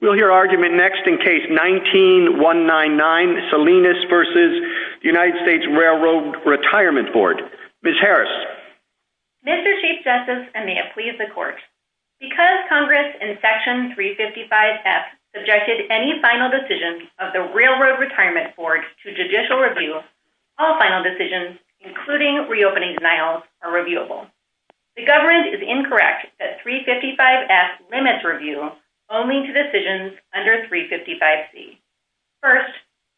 We'll hear argument next in Case 19-199, Salinas v. United States Railroad Retirement Board. Ms. Harris. Mr. Chief Justice, and may it please the Court, because Congress in Section 355F subjected any final decision of the Railroad Retirement Board to judicial review, all final decisions, including reopening denials, are reviewable. The government is incorrect that 355F limits review only to decisions under 355C. First,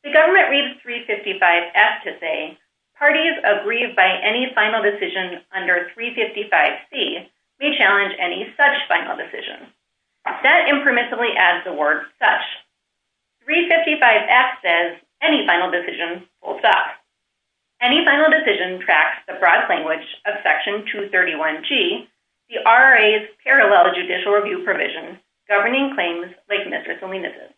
the government reads 355F to say, Parties aggrieved by any final decision under 355C may challenge any such final decision. That impermissibly adds the word such. 355F says any final decision holds up. Any final decision tracks the broad language of Section 231G, the RRA's parallel judicial review provision governing claims like Ms. or Ms. Alina's.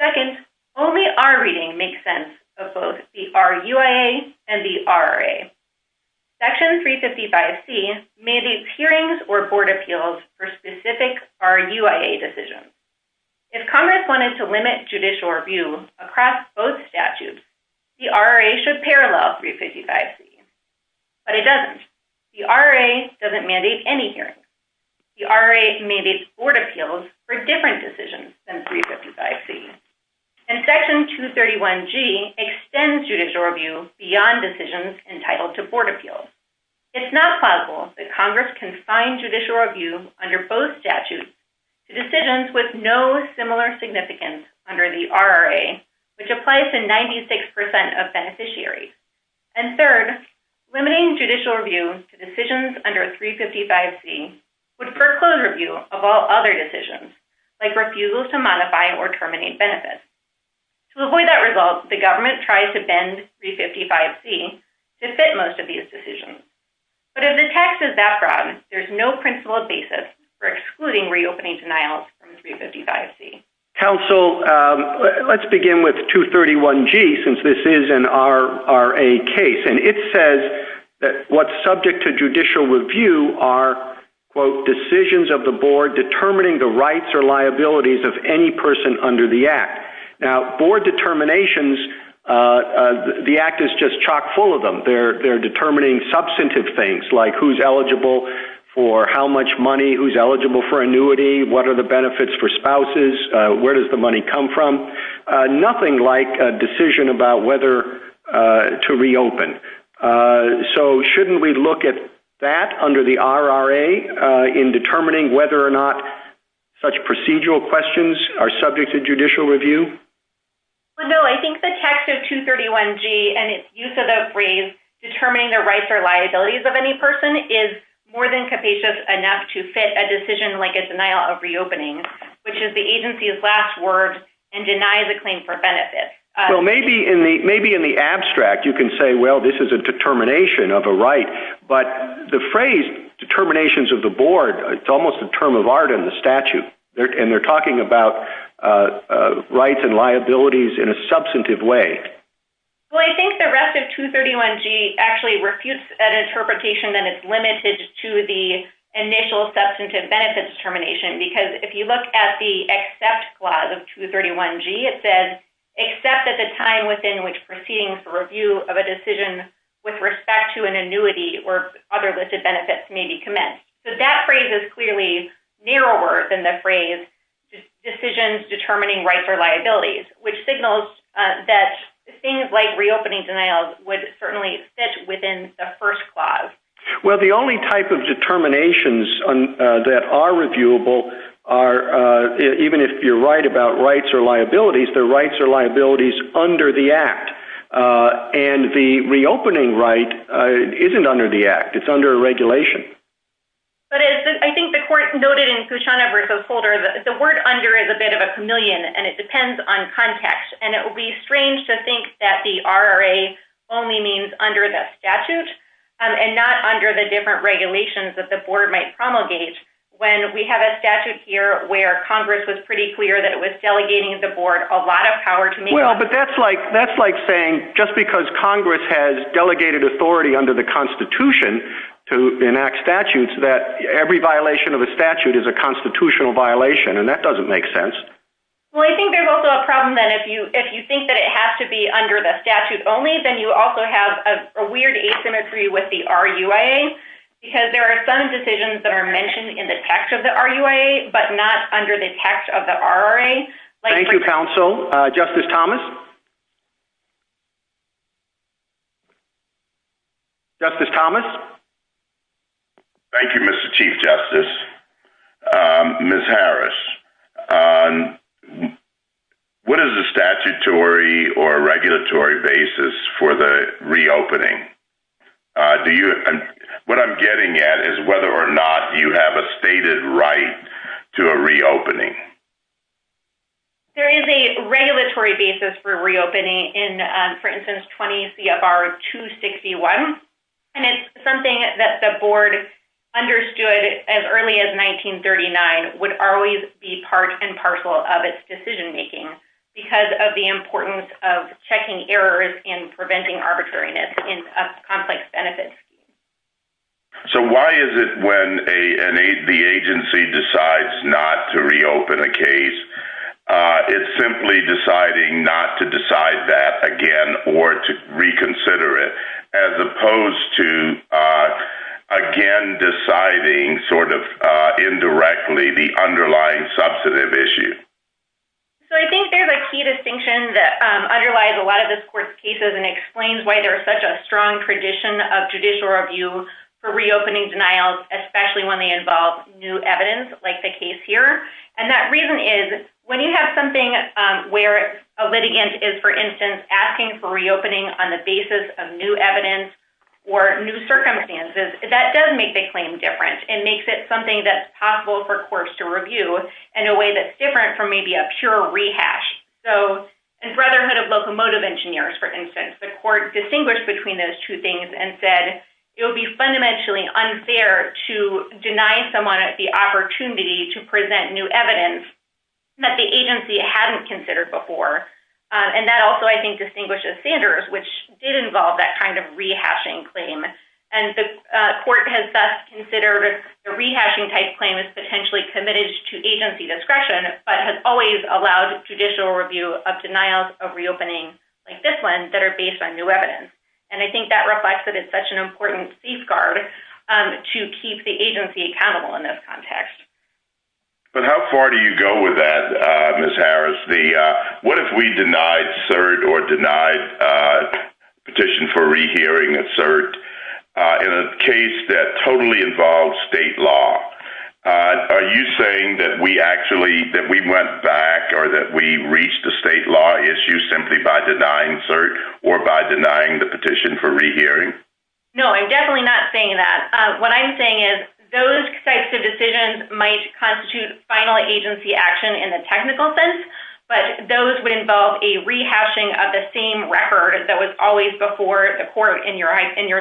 Second, only our reading makes sense of both the RUIA and the RRA. Section 355C mandates hearings or board appeals for specific RUIA decisions. If Congress wanted to limit judicial review across both statutes, the RRA should parallel 355C. But it doesn't. The RRA doesn't mandate any hearings. The RRA mandates board appeals for different decisions than 355C. And Section 231G extends judicial review beyond decisions entitled to board appeals. It's not plausible that Congress can find judicial review under both statutes to decisions with no similar significance under the RRA, which applies to 96% of beneficiaries. And third, limiting judicial review to decisions under 355C would foreclose review of all other decisions, like refusals to modify or terminate benefits. To avoid that result, the government tries to bend 355C to fit most of these decisions. But if the text is that broad, there's no principled basis for excluding reopening denials from 355C. Counsel, let's begin with 231G, since this is an RRA case. And it says that what's subject to judicial review are, quote, decisions of the board determining the rights or liabilities of any person under the Act. Now, board determinations, the Act is just chock full of them. They're determining substantive things, like who's eligible for how much money, who's eligible for annuity, what are the benefits for spouses, where does the money come from. Nothing like a decision about whether to reopen. So shouldn't we look at that under the RRA in determining whether or not such procedural questions are subject to judicial review? No, I think the text of 231G and its use of that phrase, determining the rights or liabilities of any person, is more than capacious enough to fit a decision like a denial of reopening, which is the agency's last word and denies a claim for benefits. Well, maybe in the abstract you can say, well, this is a determination of a right. But the phrase determinations of the board, it's almost a term of art in the statute. And they're talking about rights and liabilities in a substantive way. Well, I think the rest of 231G actually refutes an interpretation that it's limited to the initial substantive benefits determination, because if you look at the except clause of 231G, it says, except at the time within which proceeding for review of a decision with respect to an annuity or other listed benefits may be commenced. So that phrase is clearly narrower than the phrase decisions determining rights or liabilities, which signals that things like reopening denials would certainly fit within the first clause. Well, the only type of determinations that are reviewable are, even if you're right about rights or liabilities, the rights or liabilities under the Act. And the reopening right isn't under the Act. It's under the regulation. But I think the court noted in Cusana v. Holder that the word under is a bit of a chameleon, and it depends on context. And it would be strange to think that the RRA only means under the statute and not under the different regulations that the board might promulgate, when we have a statute here where Congress was pretty clear that it was delegating the board a lot of power to make it. Well, but that's like saying just because Congress has delegated authority under the Constitution to enact statutes, that every violation of a statute is a constitutional violation. And that doesn't make sense. Well, I think there's also a problem that if you think that it has to be under the statute only, then you also have a weird asymmetry with the RUIA, because there are some decisions that are mentioned in the text of the RUIA, but not under the text of the RRA. Thank you, counsel. Justice Thomas. Justice Thomas. Thank you, Mr. Chief Justice. Ms. Harris, what is the statutory or regulatory basis for the reopening? What I'm getting at is whether or not you have a stated right to a reopening. There is a regulatory basis for reopening in, for instance, 20 CFR 261. And it's something that the board understood as early as 1939 would always be part and parcel of its decision-making because of the importance of checking errors and preventing arbitrariness in a complex benefit scheme. So why is it when the agency decides not to reopen a case, it's simply deciding not to decide that again or to reconsider it, as opposed to again deciding sort of indirectly the underlying substantive issue? So I think there's a key distinction that underlies a lot of this court's cases and explains why there's such a strong tradition of judicial review for reopening denials, especially when they involve new evidence like the case here. And that reason is when you have something where a litigant is, for instance, asking for reopening on the basis of new evidence or new circumstances, that does make the claim different and makes it something that's possible for courts to review in a way that's different from maybe a pure rehash. So in Brotherhood of Locomotive Engineers, for instance, the court distinguished between those two things and said it would be fundamentally unfair to deny someone the opportunity to present new evidence that the agency hadn't considered before. And that also, I think, distinguishes Sanders, which did involve that kind of rehashing claim. And the court has thus considered a rehashing type claim as potentially committed to agency discretion, but has always allowed judicial review of denials of reopening like this one that are based on new evidence. And I think that reflects that it's such an important safeguard to keep the agency accountable in this context. But how far do you go with that, Ms. Harris? What if we denied CERT or denied petition for rehearing CERT in a case that totally involves state law? Are you saying that we actually went back or that we reached a state law issue simply by denying CERT or by denying the petition for rehearing? No, I'm definitely not saying that. What I'm saying is those types of decisions might constitute final agency action in the technical sense, but those would involve a rehashing of the same record that was always before the court in your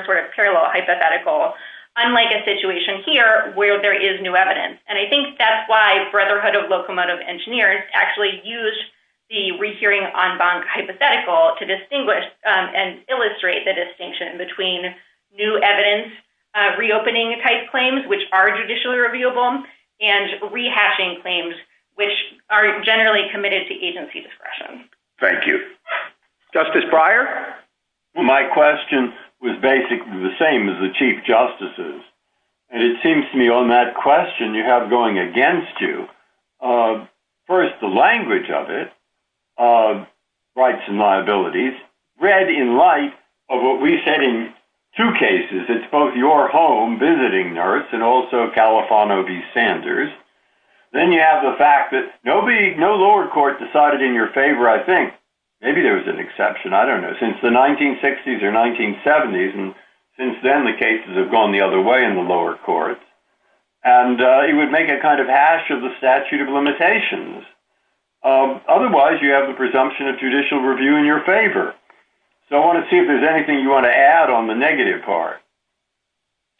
sort of parallel hypothetical, unlike a situation here where there is new evidence. And I think that's why Brotherhood of Locomotive Engineers actually used the rehearing en banc hypothetical to reopen. And I think that's why Brotherhood of Locomotive Engineers actually used the reopening type claims, which are judicially reviewable, and rehashing claims, which are generally committed to agency discretion. Thank you. Justice Breyer? My question was basically the same as the chief justices. And it seems to me on that question you have going against you. First, the language of it, rights and liabilities, read in light of what we said in two cases. It's both your home visiting nurse and also Califano v. Sanders. Then you have the fact that no lower court decided in your favor, I think, maybe there was an exception, I don't know, since the 1960s or 1970s. And since then, the cases have gone the other way in the lower courts. And it would make a kind of hash of the statute of limitations. Otherwise, you have the presumption of judicial review in your favor. So I want to see if there's anything you want to add on the negative part.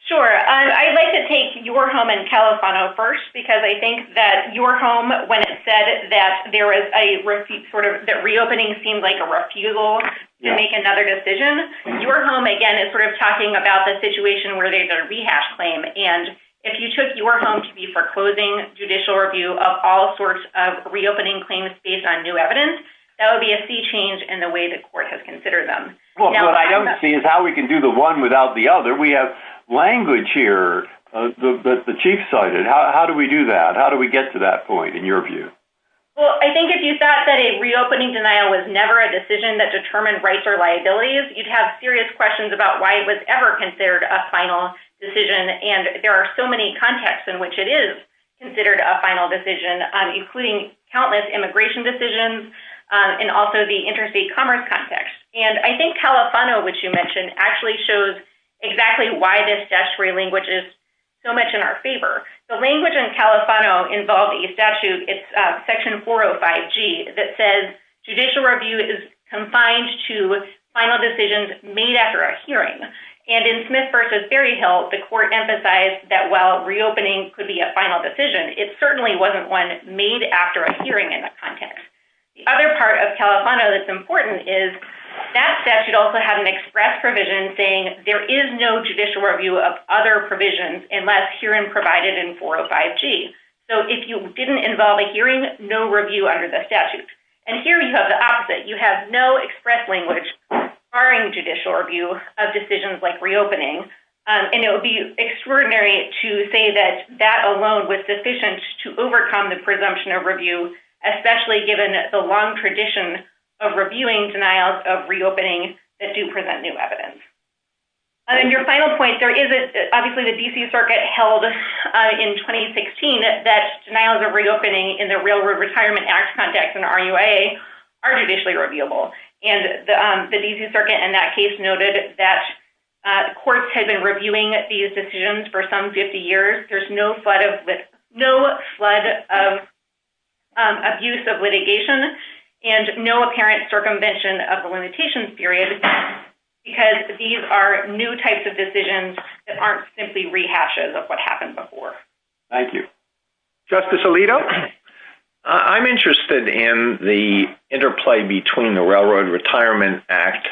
Sure. I'd like to take your home and Califano first, because I think that your home, when it said that there was a, that reopening seemed like a refusal to make another decision, your home, again, is sort of talking about the situation where they did a rehash claim. And if you took your home to be for closing judicial review of all sorts of reopening claims based on new evidence, that would be a sea change in the way the court has considered them. What I don't see is how we can do the one without the other. We have language here that the chief cited. How do we do that? How do we get to that point in your view? Well, I think if you thought that a reopening denial was never a decision that determined rights or liabilities, you'd have serious questions about why it was ever considered a final decision. And there are so many contexts in which it is considered a final decision, including countless immigration decisions and also the interstate commerce context. And I think Califano, which you mentioned, actually shows exactly why this statutory language is so much in our favor. The language in Califano involved a statute, it's section 405G, that says judicial review is confined to final decisions made after a hearing. And in Smith v. Berryhill, the court emphasized that while reopening could be a final decision, it certainly wasn't one made after a hearing in that context. The other part of Califano that's important is that statute also had an express provision saying there is no judicial review of other provisions unless hearing provided in 405G. So if you didn't involve a hearing, no review under the statute. And here you have the opposite. You have no express language requiring judicial review of decisions like reopening. And it would be extraordinary to say that that alone was sufficient to overcome the presumption of review, especially given the long tradition of reviewing denials of reopening that do present new evidence. And your final point, there is obviously the D.C. Circuit held in 2016 that denials of reopening in the Railroad Retirement Act context in RUIA are judicially reviewable. And the D.C. Circuit in that case noted that courts had been reviewing these decisions for some 50 years. There's no flood of abuse of litigation and no apparent circumvention of the limitations period because these are new types of decisions that aren't simply rehashes of what happened before. Thank you. Justice Alito? I'm interested in the interplay between the Railroad Retirement Act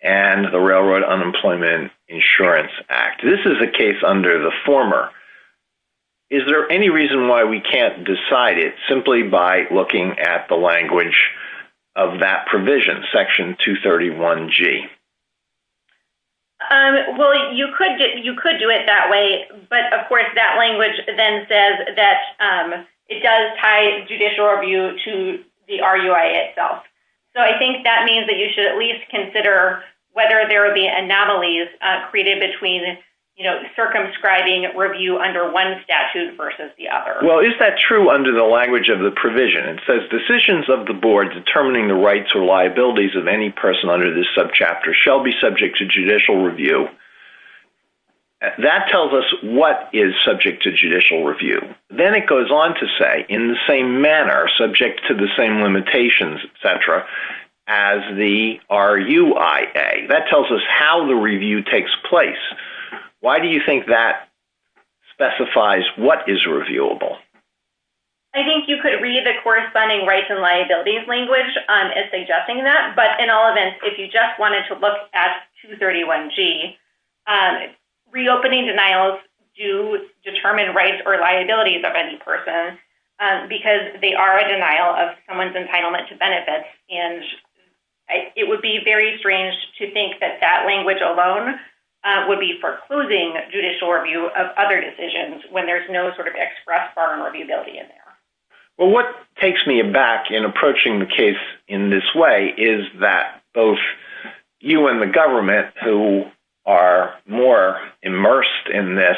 and the Railroad Unemployment Insurance Act. This is a case under the former. Is there any reason why we can't decide it simply by looking at the language of that provision, Section 231G? Well, you could do it that way. But, of course, that language then says that it does tie judicial review to the RUIA itself. So I think that means that you should at least consider whether there would be anomalies created between circumscribing review under one statute versus the other. Well, is that true under the language of the provision? It says decisions of the board determining the rights or liabilities of any person under this subchapter shall be subject to judicial review. That tells us what is subject to judicial review. Then it goes on to say in the same manner, subject to the same limitations, et cetera, as the RUIA. That tells us how the review takes place. Why do you think that specifies what is reviewable? I think you could read the corresponding rights and liabilities language as suggesting that. But in all events, if you just wanted to look at 231G, reopening denials do determine rights or liabilities of any person because they are a denial of someone's entitlement to benefits. It would be very strange to think that that language alone would be for closing judicial review of other decisions when there's no sort of express form of reviewability in there. Well, what takes me aback in approaching the case in this way is that both you and the government, who are more immersed in this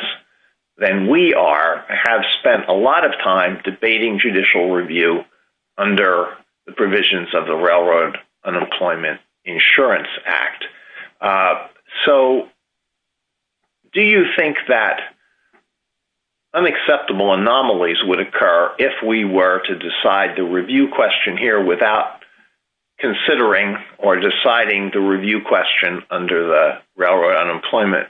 than we are, have spent a lot of time debating judicial review under the provisions of the Railroad Unemployment Insurance Act. So do you think that unacceptable anomalies would occur if we were to decide the review question here without considering or deciding the review question under the Railroad Unemployment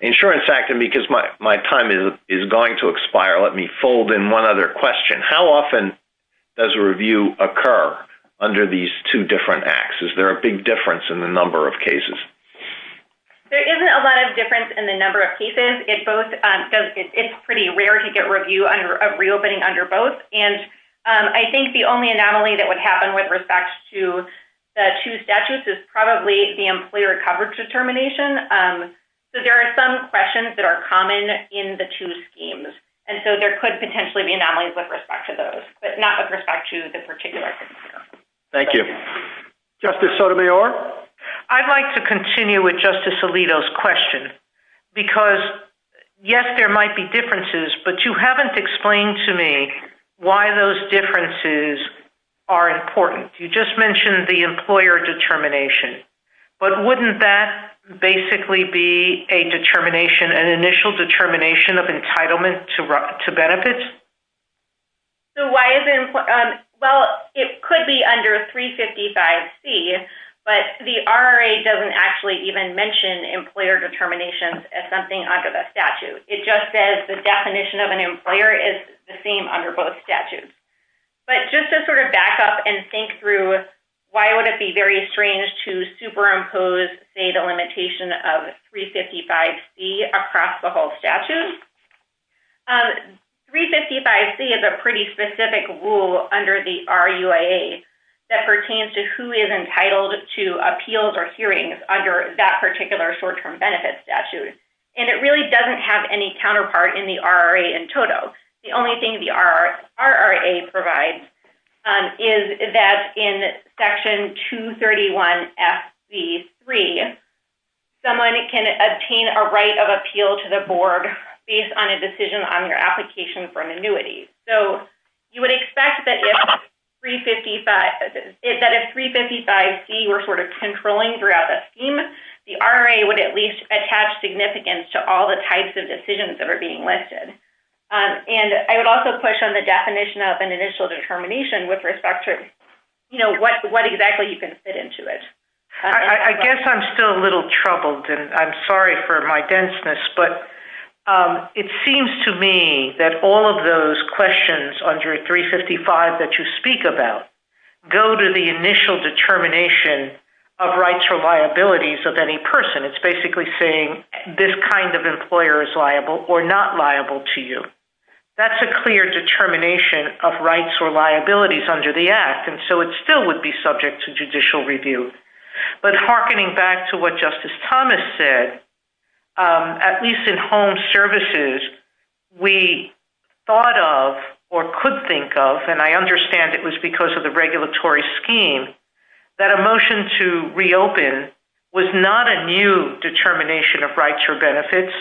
Insurance Act? And because my time is going to expire, let me fold in one other question. How often does a review occur under these two different acts? Is there a big difference in the number of cases? There isn't a lot of difference in the number of cases. It's pretty rare to get review under a reopening under both. And I think the only anomaly that would happen with respect to the two statutes is probably the employer coverage determination. So there are some questions that are common in the two schemes. And so there could potentially be anomalies with respect to those, but not with respect to the particular. Thank you. Justice Sotomayor? I'd like to continue with Justice Alito's question. Because, yes, there might be differences, but you haven't explained to me why those differences are important. You just mentioned the employer determination. But wouldn't that basically be a determination, an initial determination of entitlement to benefits? So why is it important? Well, it could be under 355C, but the RRA doesn't actually even mention employer determinations as something under the statute. It just says the definition of an employer is the same under both statutes. But just to sort of back up and think through why would it be very strange to superimpose, say, the limitation of 355C across the whole statute? 355C is a pretty specific rule under the RUAA that pertains to who is entitled to appeals or hearings under that particular short-term benefit statute. And it really doesn't have any counterpart in the RRA in total. The only thing the RRA provides is that in Section 231FB3, someone can obtain a right of appeal to the board based on a decision on your application for an annuity. So you would expect that if 355C were sort of controlling throughout the scheme, the RRA would at least attach significance to all the types of decisions that are being listed. And I would also push on the definition of an initial determination with respect to what exactly you can fit into it. I guess I'm still a little troubled, and I'm sorry for my denseness, but it seems to me that all of those questions under 355 that you speak about go to the initial determination of rights or liabilities of any person. It's basically saying this kind of employer is liable or not liable to you. That's a clear determination of rights or liabilities under the Act, and so it still would be subject to judicial review. But hearkening back to what Justice Thomas said, at least in home services, we thought of or could think of, and I understand it was because of the regulatory scheme, that a motion to reopen was not a new determination of rights or benefits,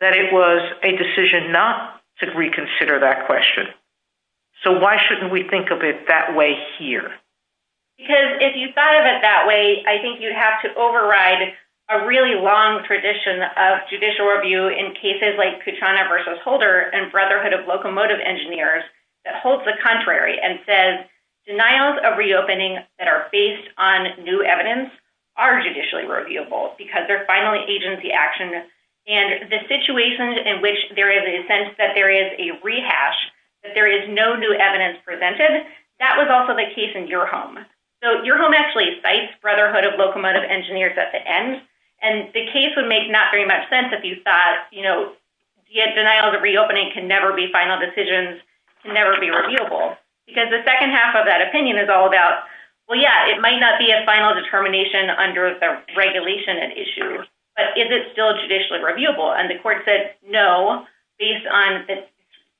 that it was a decision not to reconsider that question. So why shouldn't we think of it that way here? Because if you thought of it that way, I think you'd have to override a really long tradition of judicial review in cases like Kuchana v. Holder and Brotherhood of Locomotive Engineers that holds the contrary and says, denials of reopening that are based on new evidence are judicially reviewable because they're finally agency action. And the situation in which there is a sense that there is a rehash, that there is no new evidence presented, that was also the case in Kuchana v. Holder. So your home actually cites Brotherhood of Locomotive Engineers at the end, and the case would make not very much sense if you thought, you know, denial of reopening can never be final decisions, can never be reviewable. Because the second half of that opinion is all about, well, yeah, it might not be a final determination under the regulation at issue, but is it still judicially reviewable? And the court said, no, based on the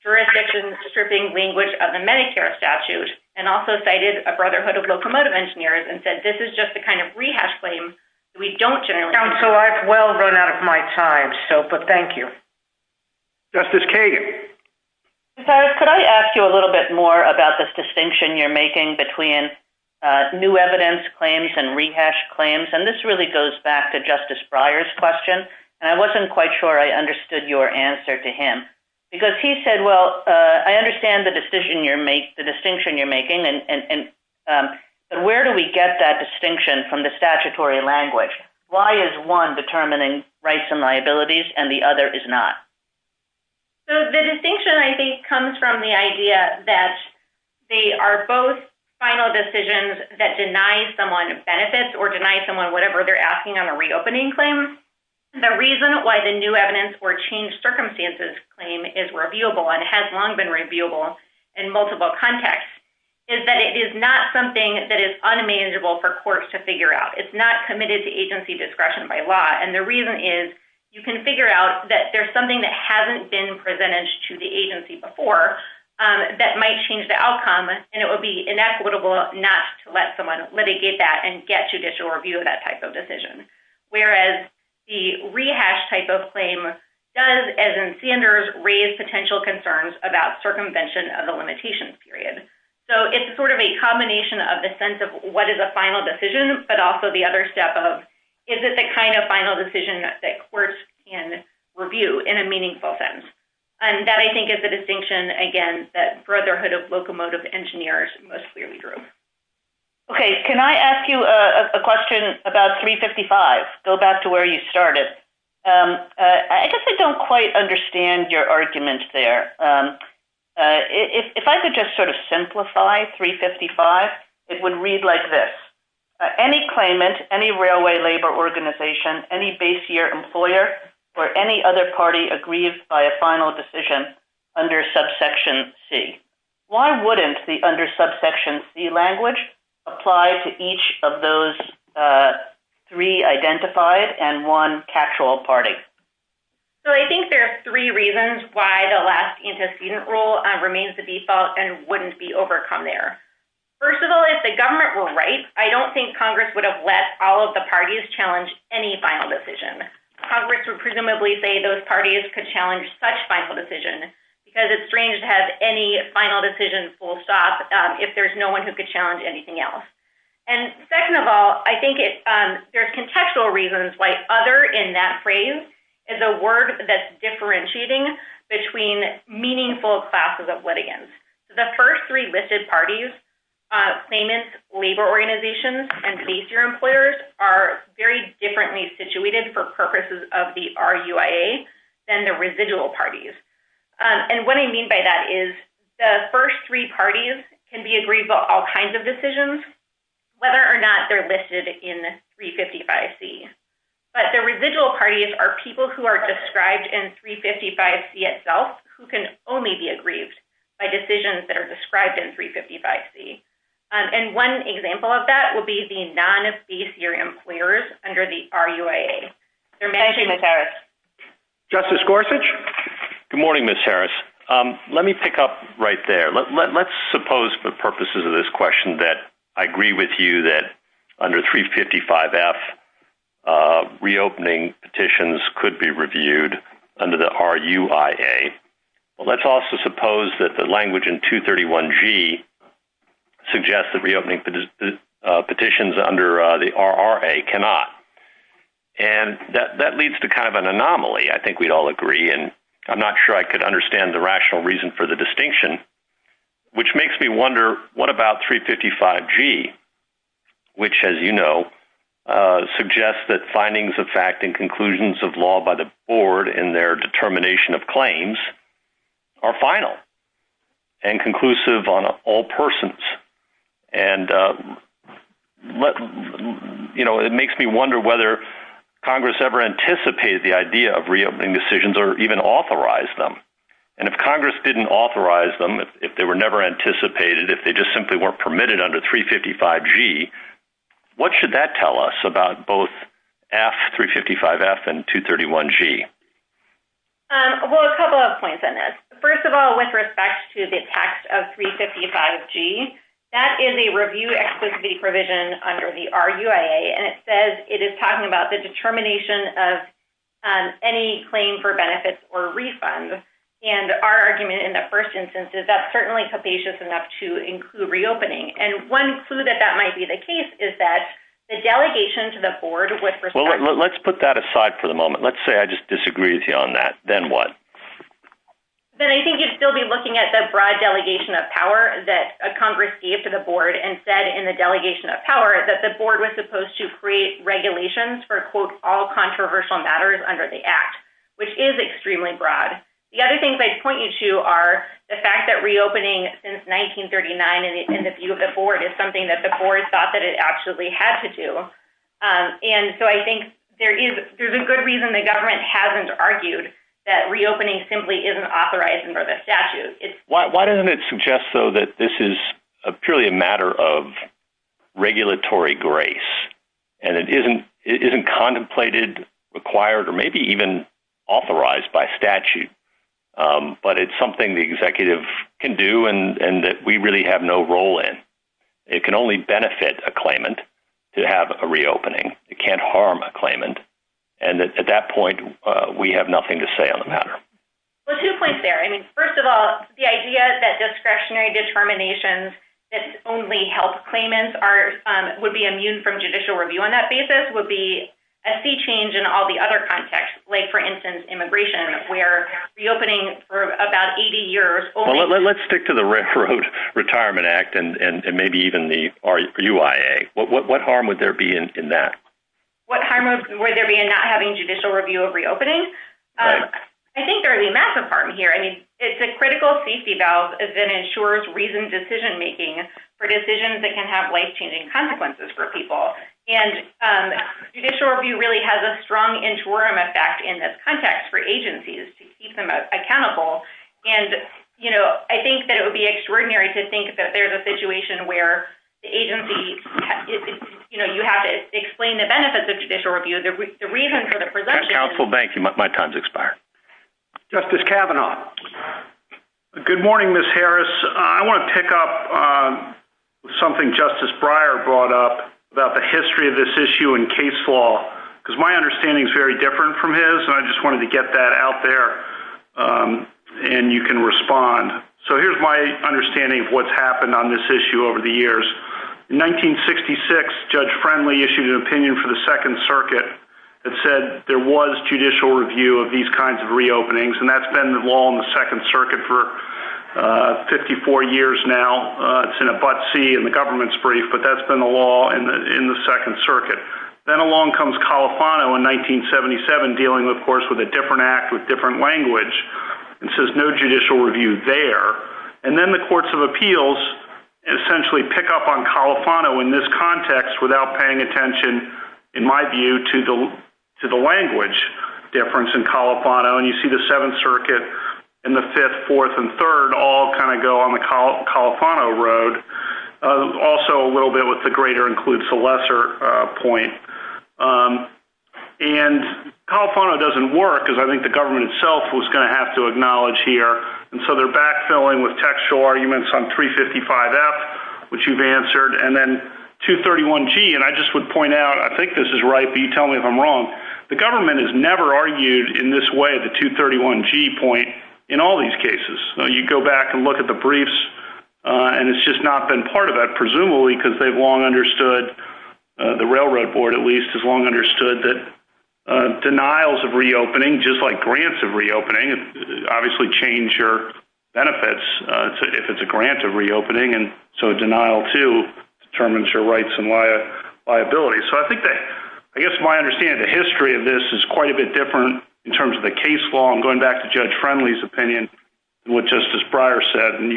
jurisdiction stripping language of the Medicare statute, and also cited a Brotherhood of Locomotive Engineers and said, this is just the kind of rehash claim we don't generally have. So I've well run out of my time, but thank you. Justice Kagan. Ms. Harris, could I ask you a little bit more about this distinction you're making between new evidence claims and rehash claims? And this really goes back to Justice Breyer's question, and I wasn't quite sure I understood your answer to him. Because he said, well, I understand the distinction you're making, but where do we get that distinction from the statutory language? Why is one determining rights and liabilities and the other is not? So the distinction, I think, comes from the idea that they are both final decisions that deny someone benefits or deny someone whatever they're asking on a reopening claim. The reason why the new evidence or changed circumstances claim is reviewable and has long been reviewable in multiple contexts is that it is not something that is unmanageable for courts to figure out. It's not committed to agency discretion by law. And the reason is you can figure out that there's something that hasn't been presented to the agency before that might change the outcome, and it would be inequitable not to let someone litigate that and get judicial review of that type of decision. Whereas the rehash type of claim does, as in Sanders, raise potential concerns about circumvention of the limitations period. So it's sort of a combination of the sense of what is a final decision, but also the other step of, is it the kind of final decision that courts can review in a meaningful sense? And that, I think, is the distinction, again, that Brotherhood of Locomotive Engineers most clearly drew. Okay. Can I ask you a question about 355? Go back to where you started. I guess I don't quite understand your argument there. If I could just sort of simplify 355, it would read like this. Any claimant, any railway labor organization, any base year employer, or any other party aggrieved by a final decision under subsection C. Why wouldn't the under subsection C language apply to each of those three identified and one catch-all party? So I think there are three reasons why the last antecedent rule remains the default and wouldn't be overcome there. First of all, if the government were right, I don't think Congress would have let all of the parties challenge any final decision. Congress would presumably say those parties could challenge such final decision because it's strange to have any final decision full stop if there's no one who could challenge anything else. And second of all, I think there's contextual reasons why other in that phrase is a word that's differentiating between meaningful classes of litigants. The first three listed parties, claimants, labor organizations, and base year employers are very differently situated for purposes of the RUIA than the residual parties. And what I mean by that is the first three parties can be aggrieved by all kinds of decisions whether or not they're listed in 355C. But the residual parties are people who are described in 355C itself who can only be aggrieved by decisions that are described in 355C. And one example of that would be the non-base year employers under the RUIA. Thank you, Ms. Harris. Justice Gorsuch? Good morning, Ms. Harris. Let me pick up right there. Let's suppose for purposes of this question that I agree with you that under 355F reopening petitions could be reviewed under the RUIA. Let's also suppose that the language in 231G suggests that reopening petitions under the RRA cannot. And that leads to kind of an anomaly. I think we'd all agree. And I'm not sure I could understand the rational reason for the distinction, which makes me wonder what about 355G, which, as you know, suggests that findings of fact and conclusions of law by the board in their determination of claims are final and conclusive on all persons. And it makes me wonder whether Congress ever anticipated the idea of reopening decisions or even authorized them. And if Congress didn't authorize them, if they were never anticipated, if they just simply weren't permitted under 355G, what should that tell us about both F, 355F, and 231G? Well, a couple of points on this. First of all, with respect to the text of 355G, that is a review exclusivity provision under the RUIA. And it says it is talking about the determination of any claim for benefits or refunds. And our argument in the first instance is that's certainly capacious enough to include reopening. And one clue that that might be the case is that the delegation to the board would still be looking at the broad delegation of power. Well, let's put that aside for the moment. Let's say I just disagree with you on that. Then what? Then I think you'd still be looking at the broad delegation of power that Congress gave to the board and said in the delegation of power that the board was supposed to create regulations for, quote, all controversial matters under the act, which is extremely broad. The other things I'd point you to are the fact that reopening since 1939 in the view of the board is something that the board thought that it actually had to do. And so I think there's a good reason the government hasn't argued that reopening simply isn't authorized under the statute. Why doesn't it suggest, though, that this is purely a matter of regulatory grace and it isn't contemplated, required, or maybe even authorized by statute? But it's something the executive can do and that we really have no role in. It can only benefit a claimant to have a reopening. It can't harm a claimant. And at that point, we have nothing to say on the matter. Well, two points there. I mean, first of all, the idea that discretionary determinations that only help claimants would be immune from judicial review on that basis would be a sea change in all the other contexts. Like, for instance, immigration, where reopening for about 80 years only... Well, let's stick to the Railroad Retirement Act and maybe even the UIA. What harm would there be in that? What harm would there be in not having judicial review of reopening? I think there would be a massive harm here. I mean, it's a critical safety valve that ensures reasoned decision-making for decisions that can have life-changing consequences for people. And judicial review really has a strong interim effect in this context for agencies to keep them accountable. And I think that it would be extraordinary to think that there's a situation where the agency... You have to explain the benefits of judicial review. The reason for the presumption... Counsel, thank you. My time's expired. Justice Kavanaugh. Good morning, Ms. Harris. I want to pick up something Justice Breyer brought up about the history of this issue in case law, because my understanding is very different from his, and I just wanted to get that out there and you can respond. So here's my understanding of what's happened on this issue over the years. In 1966, Judge Friendly issued an opinion for the Second Circuit that said there was judicial review of these kinds of reopenings, and that's been the law in the Second Circuit for 54 years now. It's in a but see in the government's brief, but that's been the law in the Second Circuit. Then along comes Califano in there, and then the Courts of Appeals essentially pick up on Califano in this context without paying attention, in my view, to the language difference in Califano. And you see the Seventh Circuit and the Fifth, Fourth, and Third all kind of go on the Califano road. Also a little bit with the greater includes the lesser point. And I think the government itself was going to have to acknowledge here. And so they're backfilling with textual arguments on 355F, which you've answered, and then 231G. And I just would point out, I think this is right, but you tell me if I'm wrong. The government has never argued in this way at the 231G point in all these cases. You go back and look at the briefs, and it's just not been part of that, presumably because they've long understood, the Railroad Board, at least, has long understood that denials of reopening, just like grants of reopening, obviously change your benefits if it's a grant of reopening. And so denial, too, determines your rights and liability. So I think that, I guess my understanding of the history of this is quite a bit different in terms of the case law. I'm going back to Judge Friendly's opinion and what Justice Breyer said. I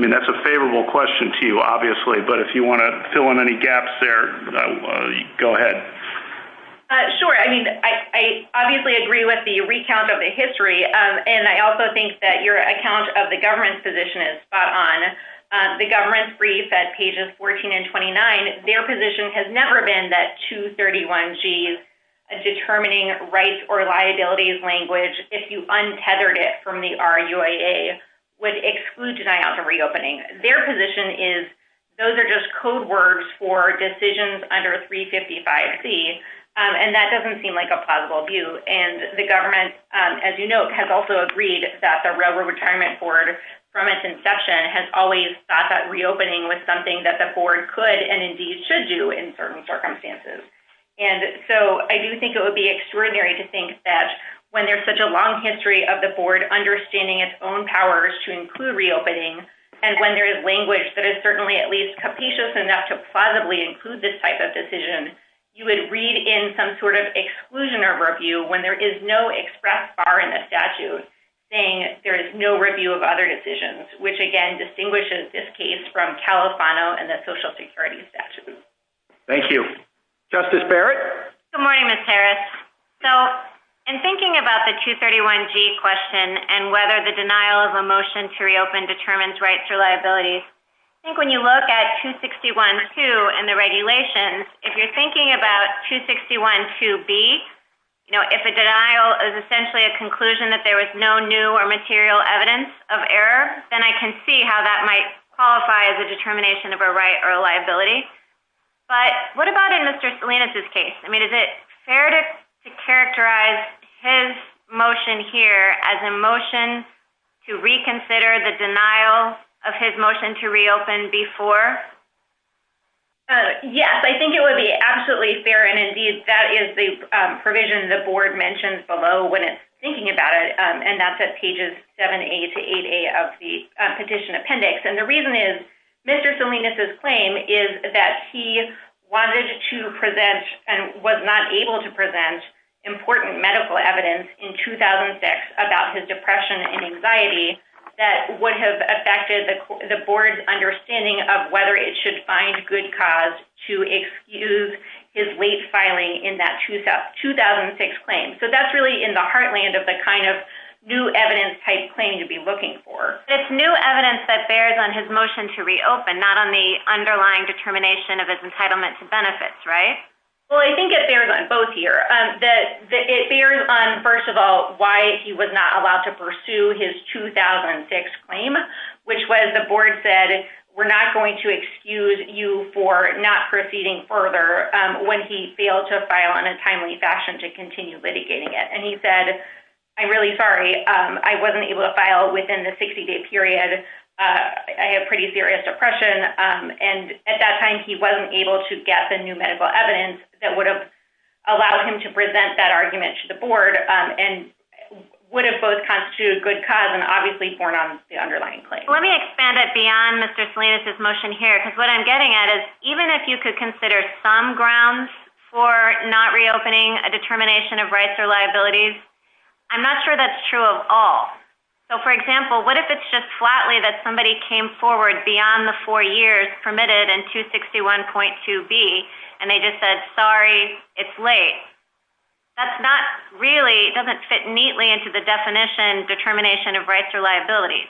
mean, that's a favorable question to you, obviously, but if you want to fill in any gaps there, go ahead. Sure. I mean, I obviously agree with the recount of the history, and I also think that your account of the government's position is spot on. The government's brief at pages 14 and 29, their position has never been that 231G's determining rights or liabilities language, if you untethered it from the RUAA, would exclude denial of reopening. Their position is those are just code words for decisions under 355C, and that doesn't seem like a plausible view. And the government, as you note, has also agreed that the Railroad Retirement Board from its inception has always thought that reopening was something that the board could and indeed should do in certain circumstances. And so I do think it would be extraordinary to think that when there's such a long history of the board understanding its own powers to include reopening, and when there is language that is certainly at least capacious enough to plausibly include this type of decision, you would read in some sort of exclusion or review when there is no express bar in the statute saying there is no review of other decisions, which again distinguishes this case from Califano and the Social Security statute. Thank you. Justice Barrett? Good morning, Ms. Harris. So, in thinking about the 231G question and whether the denial of a motion to reopen determines rights or liabilities, I think when you look at 261.2 and the regulations, if you're thinking about 261.2B, if a motion is to reopen, then I can see how that might qualify as a determination of a right or a liability. But what about in Mr. Salinas' case? I mean, is it fair to characterize his motion here as a motion to reconsider the denial of his motion to reopen before? Yes, I think it would be absolutely fair. And indeed, that is the provision the board mentions below when it's thinking about it, and that's at pages 7A to 8A of the petition appendix. And the reason is Mr. Salinas' claim is that he wanted to present and was not able to present important medical evidence in 2006 about his depression and anxiety that would have affected the board's understanding of whether it should find good cause to excuse his late filing in that 2006 claim. So that's really in the heartland of the kind of new evidence type claim to be looking for. It's new evidence that bears on his motion to reopen, not on the underlying determination of his entitlement to benefits, right? Well, I think it bears on both here. It bears on, first of all, why he was not allowed to pursue his 2006 claim, which was the board said, we're not going to excuse you for not proceeding further when he failed to file in a timely fashion to continue litigating it. And he said, I'm really sorry. I wasn't able to file within the 60-day period. I have pretty serious depression. And at that time, he wasn't able to get the new medical evidence that would have allowed him to present that argument to the board. So I think it bears on both here. I think it bears on both here. Let me expand it beyond Mr. Salinas' motion here. Because what I'm getting at is, even if you could consider some grounds for not reopening a determination of rights or liabilities, I'm not sure that's true of all. So, for example, what if it's just flatly that somebody came forward beyond the four years permitted in 261.2B and they just said, sorry, it's late. That's not really, doesn't fit neatly into the definition determination of rights or liabilities.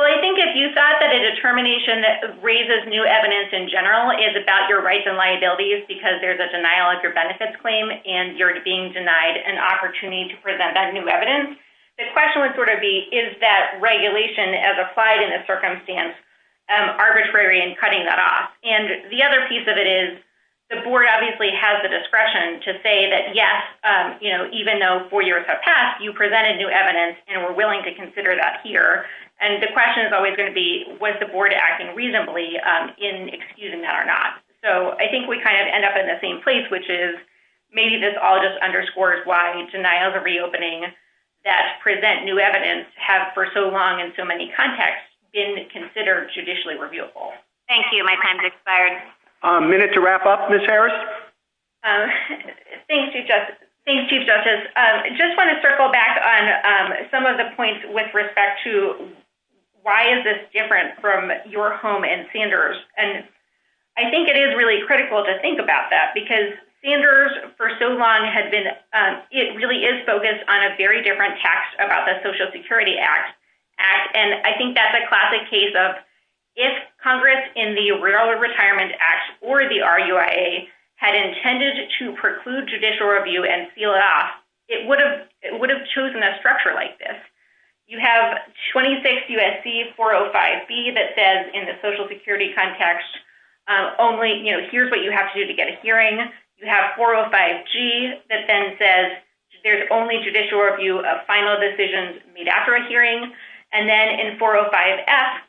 Well, I think if you thought that a determination that raises new evidence in general is about your rights and liabilities because there's a denial of your benefits claim and you're being denied an opportunity to present that new evidence, the question would sort of be, is that regulation as applied in this circumstance arbitrary in cutting that off? And the other piece of it is the board obviously has the discretion to say that, yes, even though four years have passed, you presented new evidence and we're willing to consider that here. And the question is always going to be, was the board acting reasonably in excusing that or not? So I think we kind of end up in the same place, which is maybe this all just underscores why denials of reopening that present new evidence have for so long in so many contexts been considered judicially reviewable. Thank you. My time's expired. A minute to wrap up, Ms. Harris. Thanks, Chief Justice. Just want to circle back on some of the points with respect to why is this different from your home in Sanders? And I think it is really critical to think about that because Sanders for so long had been, it really is focused on a very different text about the Social Security Act. And I think that's a classic case of if Congress in the Rural Retirement Act or the RUIA had intended to preclude judicial review and seal it off, it would have chosen a structure like this. You have 26 USC 405B that says in the Social Security context, here's what you have to do to get a hearing. You have 405G that then says there's only judicial review of final decisions made after a hearing. And then in 405F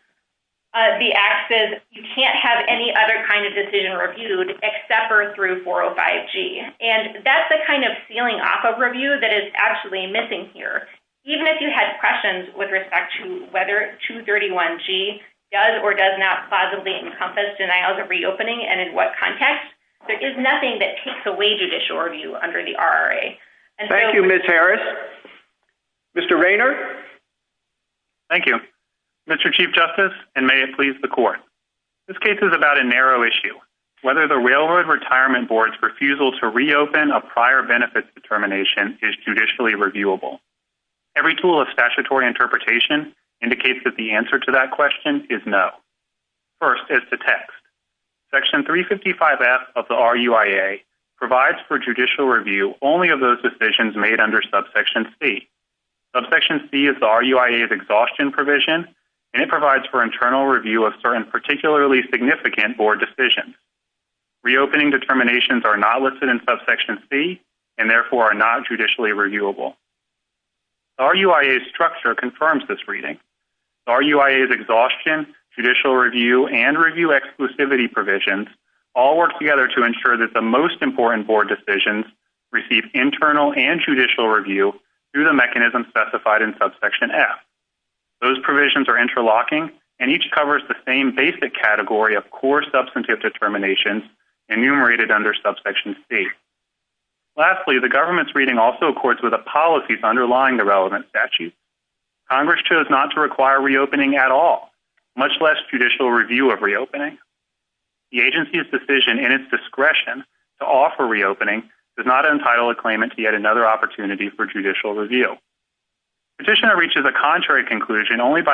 the act says you can't have any other kind of decision reviewed except for through 405G. And that's the kind of sealing off of review that is actually missing here. Even if you had questions with respect to whether 231G does or does not plausibly encompass denials of reopening and in what context, there is nothing that takes away judicial review under the RRA. Thank you, Ms. Harris. Mr. Raynor. Thank you. Mr. Chief Justice and may it please the court. This case is about a narrow issue. Whether the Railroad Retirement Board's refusal to reopen a prior benefits determination is judicially reviewable. Every tool of statutory interpretation indicates that the answer to that question is no. First is the text. Section 355F of the RUIA provides for judicial review only of those decisions made under subsection C. Subsection C is the RUIA's exhaustion provision and it provides for internal and judicial review. Subsections are not listed in subsection C and therefore are not judicially reviewable. RUIA's structure confirms this reading. RUIA's exhaustion, judicial review, and review exclusivity provisions all work together to ensure that the most important board decisions receive internal and judicial review through the mechanism specified in subsection F. Those decisions must be reviewed through subsection C. Lastly, the government's reading also accords with the policies underlying the relevant statute. Congress chose not to require reopening at all, much less judicial review of reopening. The agency's decision in its discretion to offer reopening does not entitle a claimant to yet another opportunity for judicial review. Petitioner reaches a contrary conclusion only by rejecting the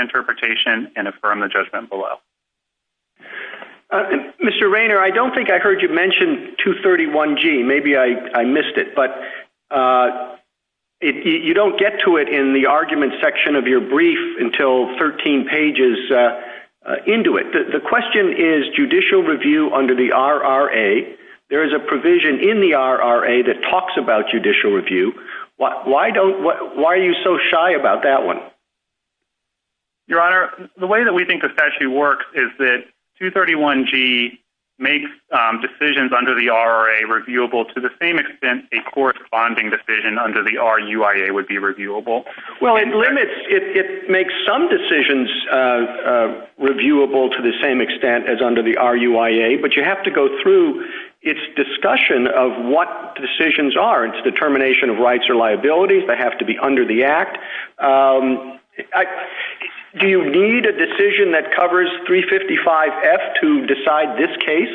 interpretation and affirming the judgment below. Mr. Raynor, I don't think I heard you mention 231G. Maybe I missed it, but you don't get to it in the argument section of your brief until 13 pages into it. The question is judicial review under the RRA. There is a provision in the RRA that talks about judicial review. Why are you so shy about that one? Your Honor, the way that we think the statute works is that 231G makes decisions under the RRA reviewable to the same extent a corresponding decision under the RUIA would be reviewable. Well, it limits it makes some decisions reviewable to the same extent as the RUIA, but you have to go through its discussion of what decisions are. It's determination of rights or liabilities that have to be under the Act. Do you need a decision that covers 355F to decide this case?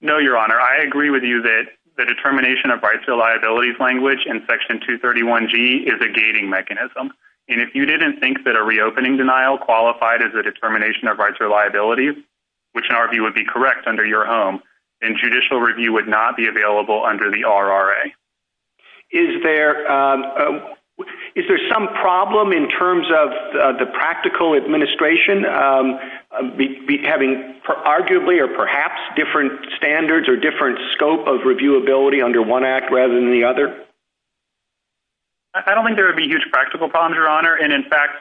No, Your Honor. I agree with you that the determination of rights or liabilities language in section 231G is a gating mechanism. And if you didn't think that a reopening denial qualified as a determination of rights or liabilities, which in our view would be correct under your home, then judicial review would not be available under the RRA. Is there some problem in terms of the practical administration having arguably or perhaps different standards or different scope of reviewability under one Act rather than the other? I don't think there would be huge practical problems, Your Honor. And in fact,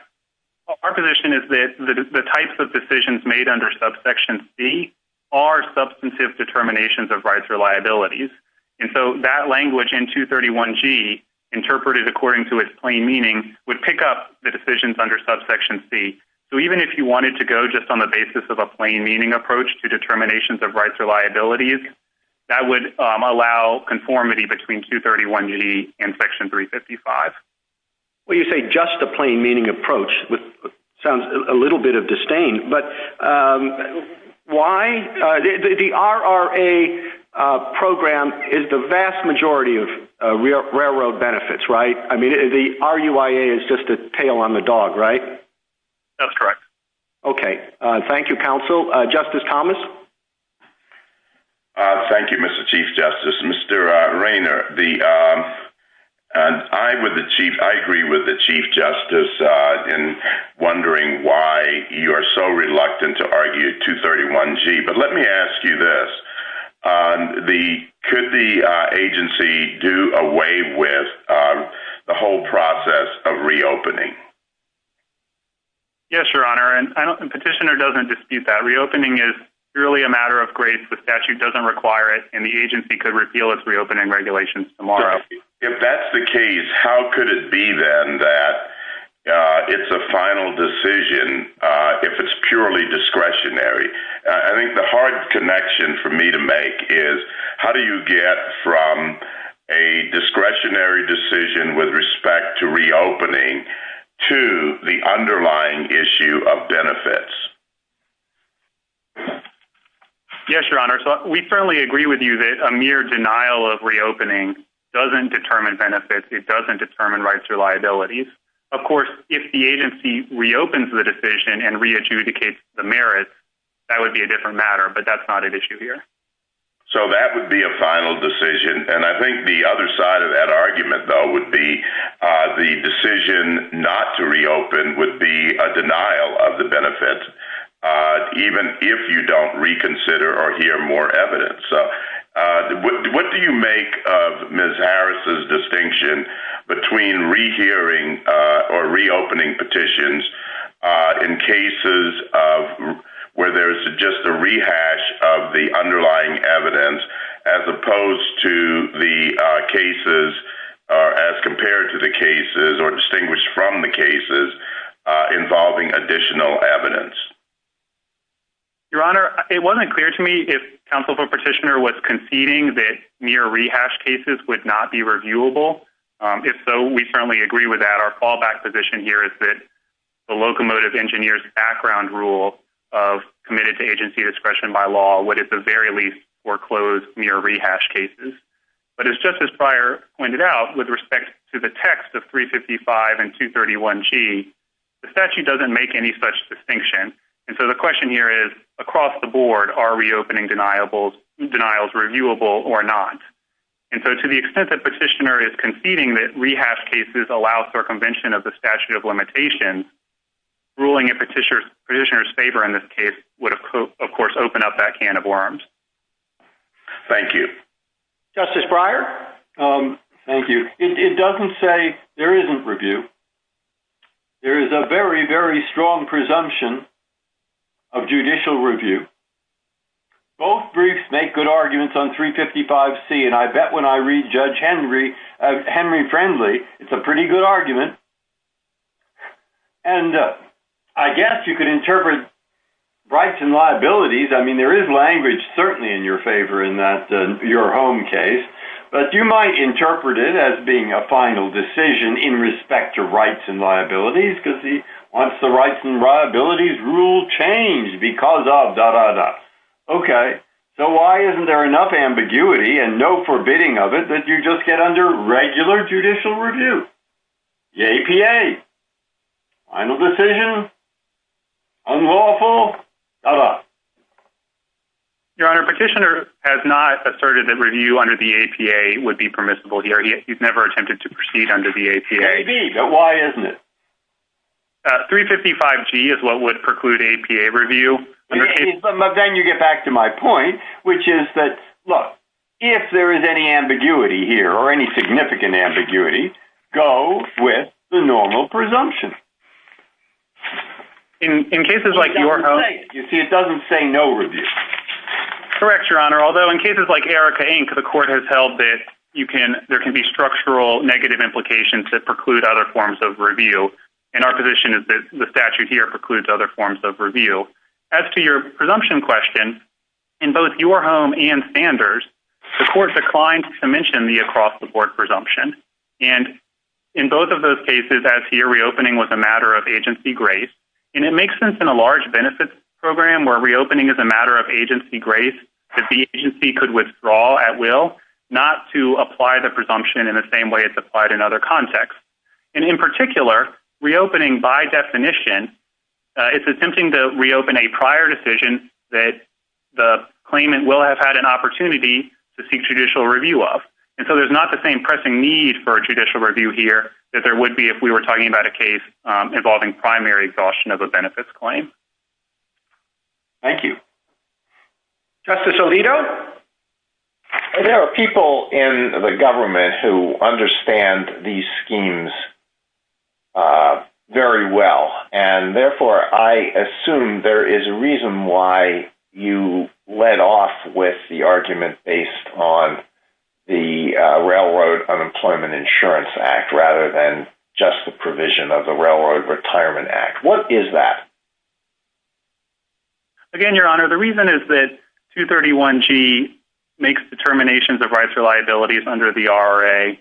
our position is that the types of decisions made under subsection C are substantive determinations of rights or liabilities. And so that language in 231G interpreted according to its plain meaning would pick up the decisions under subsection C. So even if you wanted to go just on the basis of a plain meaning approach to determinations of rights or liabilities, that would allow conformity between 231G and section 355. Well, you say just a plain meaning approach, which sounds a little bit of disdain, but why? The RRA program is the vast majority of railroad benefits, right? I mean, the RUIA is just a tail on the dog, right? That's correct. Okay. Thank you, Counsel. Justice Thomas? Thank you, Mr. Chief Justice. Mr. Rayner, I agree with the Chief Justice in wondering why you are so reluctant to argue 231G. But let me ask you this. Could the agency repeal its reopening? Yes, Your Honor. Petitioner doesn't dispute that. Reopening is purely a matter of grace. The statute doesn't require it, and the agency could repeal its reopening regulations tomorrow. If that's the case, how could it be then that it's a final decision if it's purely discretionary? I think the hard connection for me to make is how do you get from a discretionary decision with respect to reopening to the underlying issue of benefits? Yes, Your Honor. We certainly agree with you that a mere denial of reopening doesn't determine benefits. It doesn't determine rights or liabilities. Of course, if the agency reopens the decision and re-adjudicates the merits, that would be a different matter. But that's not an issue here. So that would be a final decision. And I think the other side of that argument, though, would be the decision not to reopen would be a denial of the benefits, even if you don't reconsider or hear more evidence. What do you make of Ms. Harris' distinction between rehearing or reopening petitions in cases where there's just a rehash of the underlying evidence as opposed to the cases as compared to the cases or distinguished from the cases involving additional evidence? Your Honor, it wasn't clear to me if counsel for petitioner was conceding that mere rehash cases would not be reviewable. If so, we certainly agree with that. Our fallback position here is that the locomotive engineer's background rule of committed to agency discretion by law would at the very least foreclose mere rehash cases. But as Justice Breyer pointed out with respect to the text of 355 and 231G, the statute doesn't make any such distinction. And so the question here is, across the board, are reopening denials reviewable or not? And so to the extent that petitioner is conceding that rehash cases allow circumvention of the statute of limitations, ruling in petitioner's favor in this case would, of course, open up that can of worms. Thank you. Justice Breyer? Thank you. It doesn't say there isn't review. There is a very, very strong presumption of judicial review. Both briefs make good arguments on 355C, and I bet when I read Judge Henry Friendly, it's a pretty good argument. And I guess you could interpret rights and liabilities. I mean, there is language certainly in your favor in that your home case. But you might interpret it as being a final decision in respect to rights and liabilities, because he wants the rights and liabilities rule changed because of da-da-da. Okay. So why isn't there enough ambiguity and no forbidding of it that you just get under regular judicial review? Yay, PA! Final decision? Unlawful? Da-da. Your Honor, petitioner has not asserted that review under the APA would be permissible here. He's never attempted to proceed under the APA. Maybe, but why isn't it? 355G is what would preclude APA review. Then you get back to my point, which is that, look, if there is any ambiguity here, or any significant ambiguity, go with the normal presumption. In cases like your home, you see, it doesn't say no review. Correct, Your Honor, although in cases like Erica, Inc., the Court has held that there can be structural negative implications that preclude other forms of review. And our position is that the statute here precludes other forms of review. As to your presumption question, in both your home and Sanders, the case is as here, reopening was a matter of agency grace. And it makes sense in a large benefits program where reopening is a matter of agency grace that the agency could withdraw at will, not to apply the presumption in the same way it's applied in other contexts. And in particular, reopening by definition, it's attempting to reopen a prior decision that the claimant will have had an opportunity to seek judicial review of. And so there's not the same pressing need for judicial review here that there would be if we were talking about a case involving primary exhaustion of a benefits claim. Thank you. Justice Alito? There are people in the government who understand these schemes very well. And therefore, I assume there is a reason why you led off with the argument based on the Railroad Unemployment Insurance Act rather than just the provision of the Railroad Retirement Act. What is that? Again, Your Honor, the reason is that 231G makes determinations of rights or liabilities under the RRA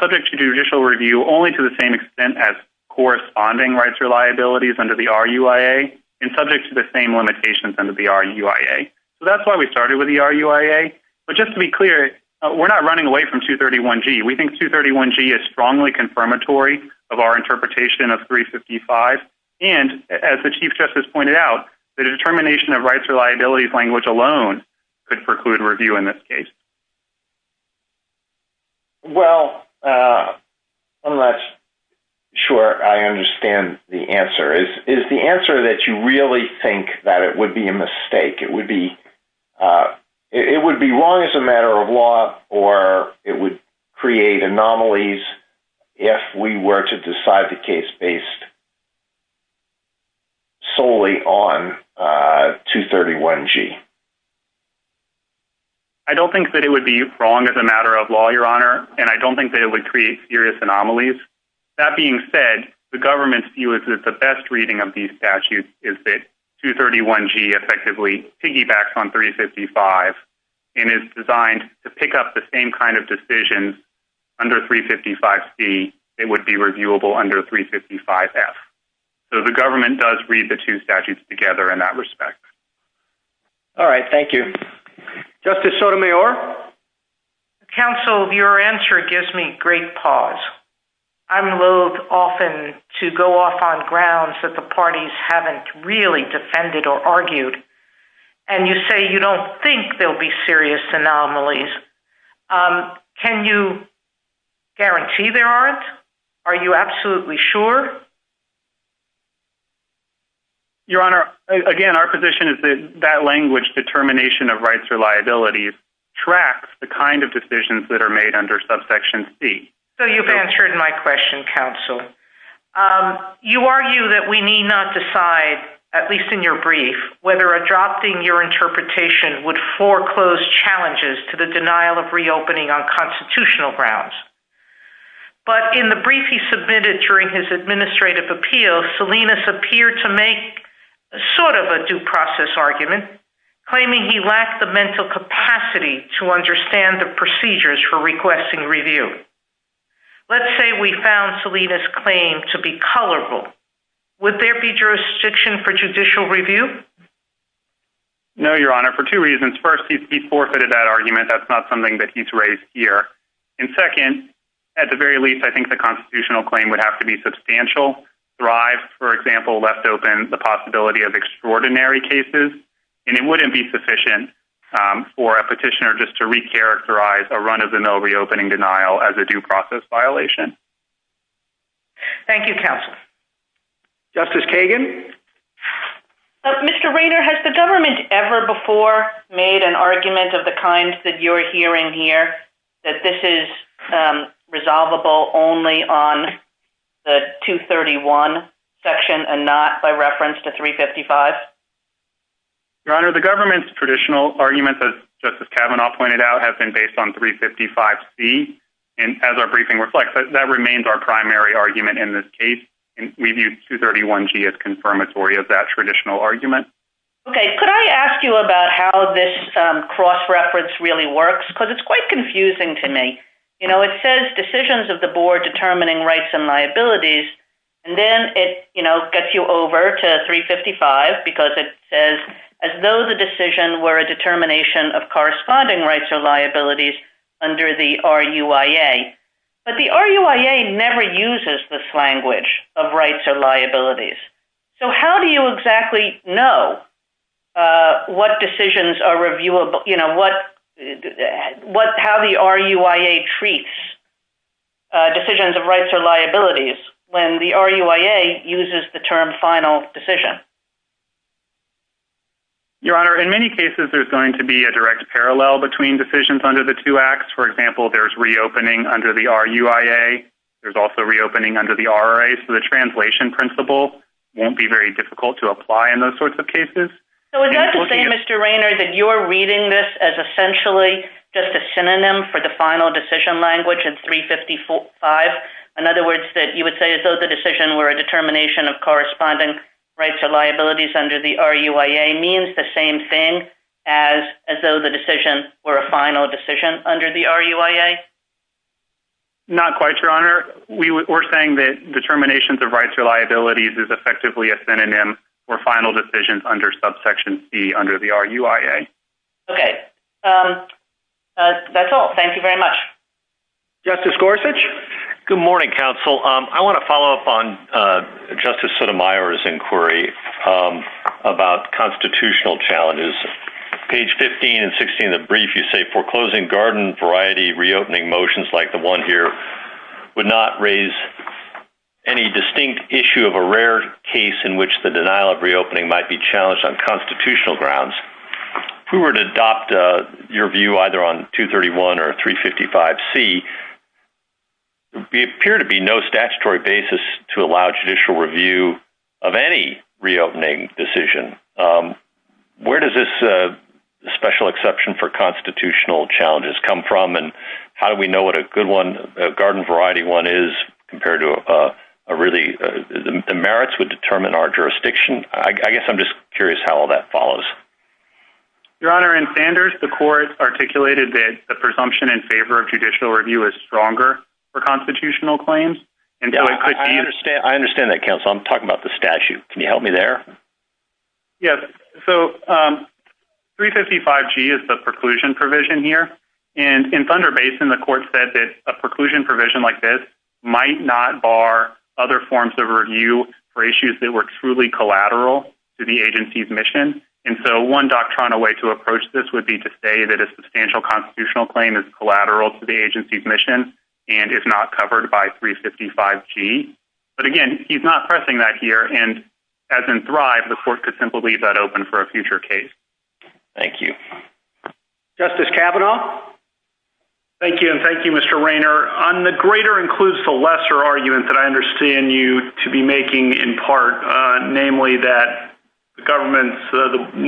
subject to judicial review only to the same extent as corresponding rights or liabilities under the RUIA and subject to the same limitations under the RUIA. So that's why we started with the RUIA. But just to be clear, we're not running away from 231G. We think 231G is strongly confirmatory of our interpretation of 355. And as the Chief Justice pointed out, the determination of rights or liabilities language alone could preclude review in this case. Well, I'm not sure I understand the answer. Is the answer that you really think that it would be a mistake? It would be wrong as a matter of law, or it would create anomalies if we were to decide the case based solely on 231G? I don't think that it would be wrong as a matter of law, Your Honor. And I don't think that it would create serious anomalies. That being said, the government's view is that the best reading of these statutes is that 231G effectively piggybacks on 355 and is designed to pick up the same kind of decisions under 355C that would be reviewable under 355F. So the government does read the two statutes together in that respect. All right. Thank you. Justice Sotomayor? Counsel, your answer gives me great pause. I'm loathed often to go off on grounds that the parties haven't really defended or argued. And you say you don't think there'll be serious anomalies. Can you guarantee there aren't? Are you absolutely sure? Your Honor, again, our position is that that language, determination of rights or liabilities, tracks the kind of decisions that are made under subsection C. So you've answered my question, Counsel. You argue that we need not decide, at least in your brief, whether adopting your interpretation would foreclose challenges to the denial of reopening on constitutional grounds. But in the brief he submitted during his administrative appeal, Salinas appeared to make sort of a due process argument, claiming he lacked the mental capacity to understand the procedures for requesting review. Let's say we found Salinas' claim to be colorful. Would there be jurisdiction for judicial review? No, Your Honor, for two reasons. First, he's forfeited that argument. That's not something that he's raised here. And second, at the very least, I think the constitutional claim would have to be substantial. Thrive, for example, left open the possibility of extraordinary cases. And it wouldn't be sufficient for a petitioner just to recharacterize a run-of-the-mill reopening denial as a due process violation. Thank you, Counsel. Justice Kagan? Mr. Rader, has the government ever before made an argument of the kind that you're hearing here that this is resolvable only on the 231 section and not by reference to 355? Your Honor, the government's traditional arguments, as Justice Kavanaugh pointed out, have been based on 355C. And as our briefing reflects, that remains our primary argument in this case. And we view 231G as confirmatory of that traditional argument. Okay. Could I ask you about how this cross-reference really works? Because it's quite confusing to me. You know, it says decisions of the board determining rights and liabilities, as well as it says, as though the decision were a determination of corresponding rights or liabilities under the RUIA. But the RUIA never uses this language of rights or liabilities. So how do you exactly know what decisions are reviewable? You know, how the RUIA treats decisions of rights or liabilities? Your Honor, in many cases, there's going to be a direct parallel between decisions under the two acts. For example, there's reopening under the RUIA. There's also reopening under the RRA. So the translation principle won't be very difficult to apply in those sorts of cases. So is that to say, Mr. Raynor, that you're reading this as essentially just a synonym for the final decision language in 355? In other words, that you would say as though the decision were a determination of corresponding rights or liabilities under the RUIA means the same thing as though the decision were a final decision under the RUIA? Not quite, Your Honor. We're saying that determinations of rights or liabilities is effectively a synonym for final decisions under subsection C under the RUIA. Okay. That's all. Thank you very much. Justice Gorsuch? Good morning, counsel. I want to follow up on Justice Sotomayor's inquiry about constitutional challenges. Page 15 and 16 of the brief, you say foreclosing garden variety reopening motions like the one here would not raise any distinct issue of a rare case in which the judicial review either on 231 or 355C appear to be no statutory basis to allow judicial review of any reopening decision. Where does this special exception for constitutional challenges come from, and how do we know what a good one, a garden variety one is compared to a really, the merits would determine our I think the court articulated that the presumption in favor of judicial review is stronger for constitutional claims. I understand that, counsel. I'm talking about the statute. Can you help me there? Yes. So 355G is the preclusion provision here. And in Thunder Basin, the court said that a preclusion provision like this might not bar other forms of review for issues that were truly collateral to the agency's mission. And so one doctrinal way to approach this would be to say that a substantial constitutional claim is collateral to the agency's mission and is not covered by 355G. But again, he's not pressing that here. And as in Thrive, the court could simply leave that open for a future case. Thank you. Justice Kavanaugh. Thank you. And thank you, Mr. Rayner. The greater includes the lesser argument that I understand you to be making in part, namely that the government's,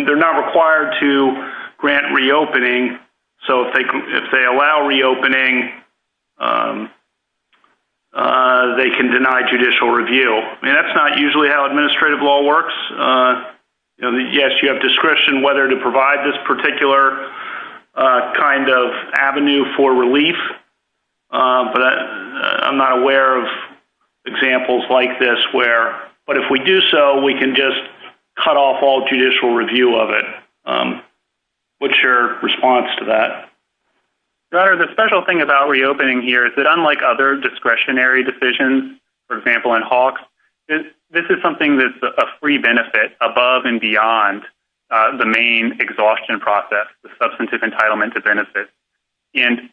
they're not required to grant reopening. So if they allow reopening, they can deny judicial review. I mean, that's not usually how administrative law works. Yes, you have discretion whether to provide this particular kind of avenue for relief. But I'm not aware of examples like this where, but if we do so, we can just cut off all judicial review of it. What's your response to that? The special thing about reopening here is that unlike other discretionary decisions, for example, in Hawks, this is something that's a free benefit above and beyond the main exhaustion process, the substantive entitlement to benefit. And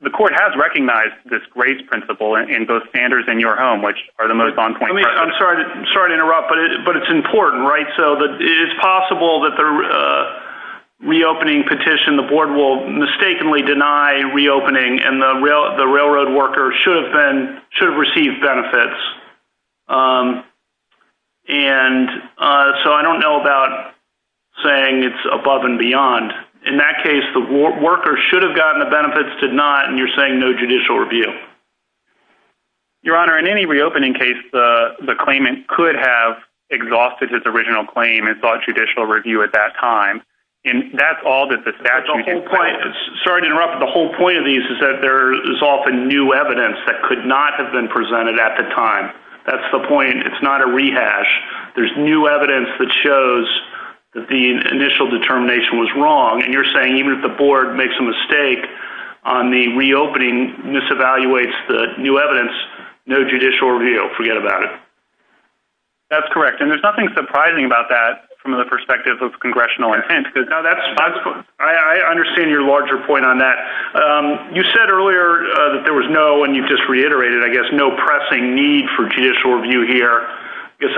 the court has recognized this grace principle in both Sanders and your home, which are the most on point. I'm sorry to interrupt, but it's important, right? So that it is possible that the reopening petition, the board will mistakenly deny reopening and the railroad worker should have received benefits. And so I don't know about saying it's above and beyond. In that case, the worker should have gotten the benefits, did not. And you're saying no judicial review. Your Honor, in any reopening case, the claimant could have exhausted his original claim and thought judicial review at that time. And that's all that the statute requires. Sorry to interrupt, but the whole point of these is that there is often new evidence that could not have been presented at the time. That's the point. It's not a rehash. There's new evidence that shows that the initial determination was wrong. And you're saying even if the board makes a mistake on the reopening, this evaluates the new evidence, no judicial review. Forget about it. That's correct. And there's nothing surprising about that from the perspective of congressional intent. I understand your larger point on that. You said earlier that there was no, and you've just reiterated, I guess, no pressing need for judicial review here. I guess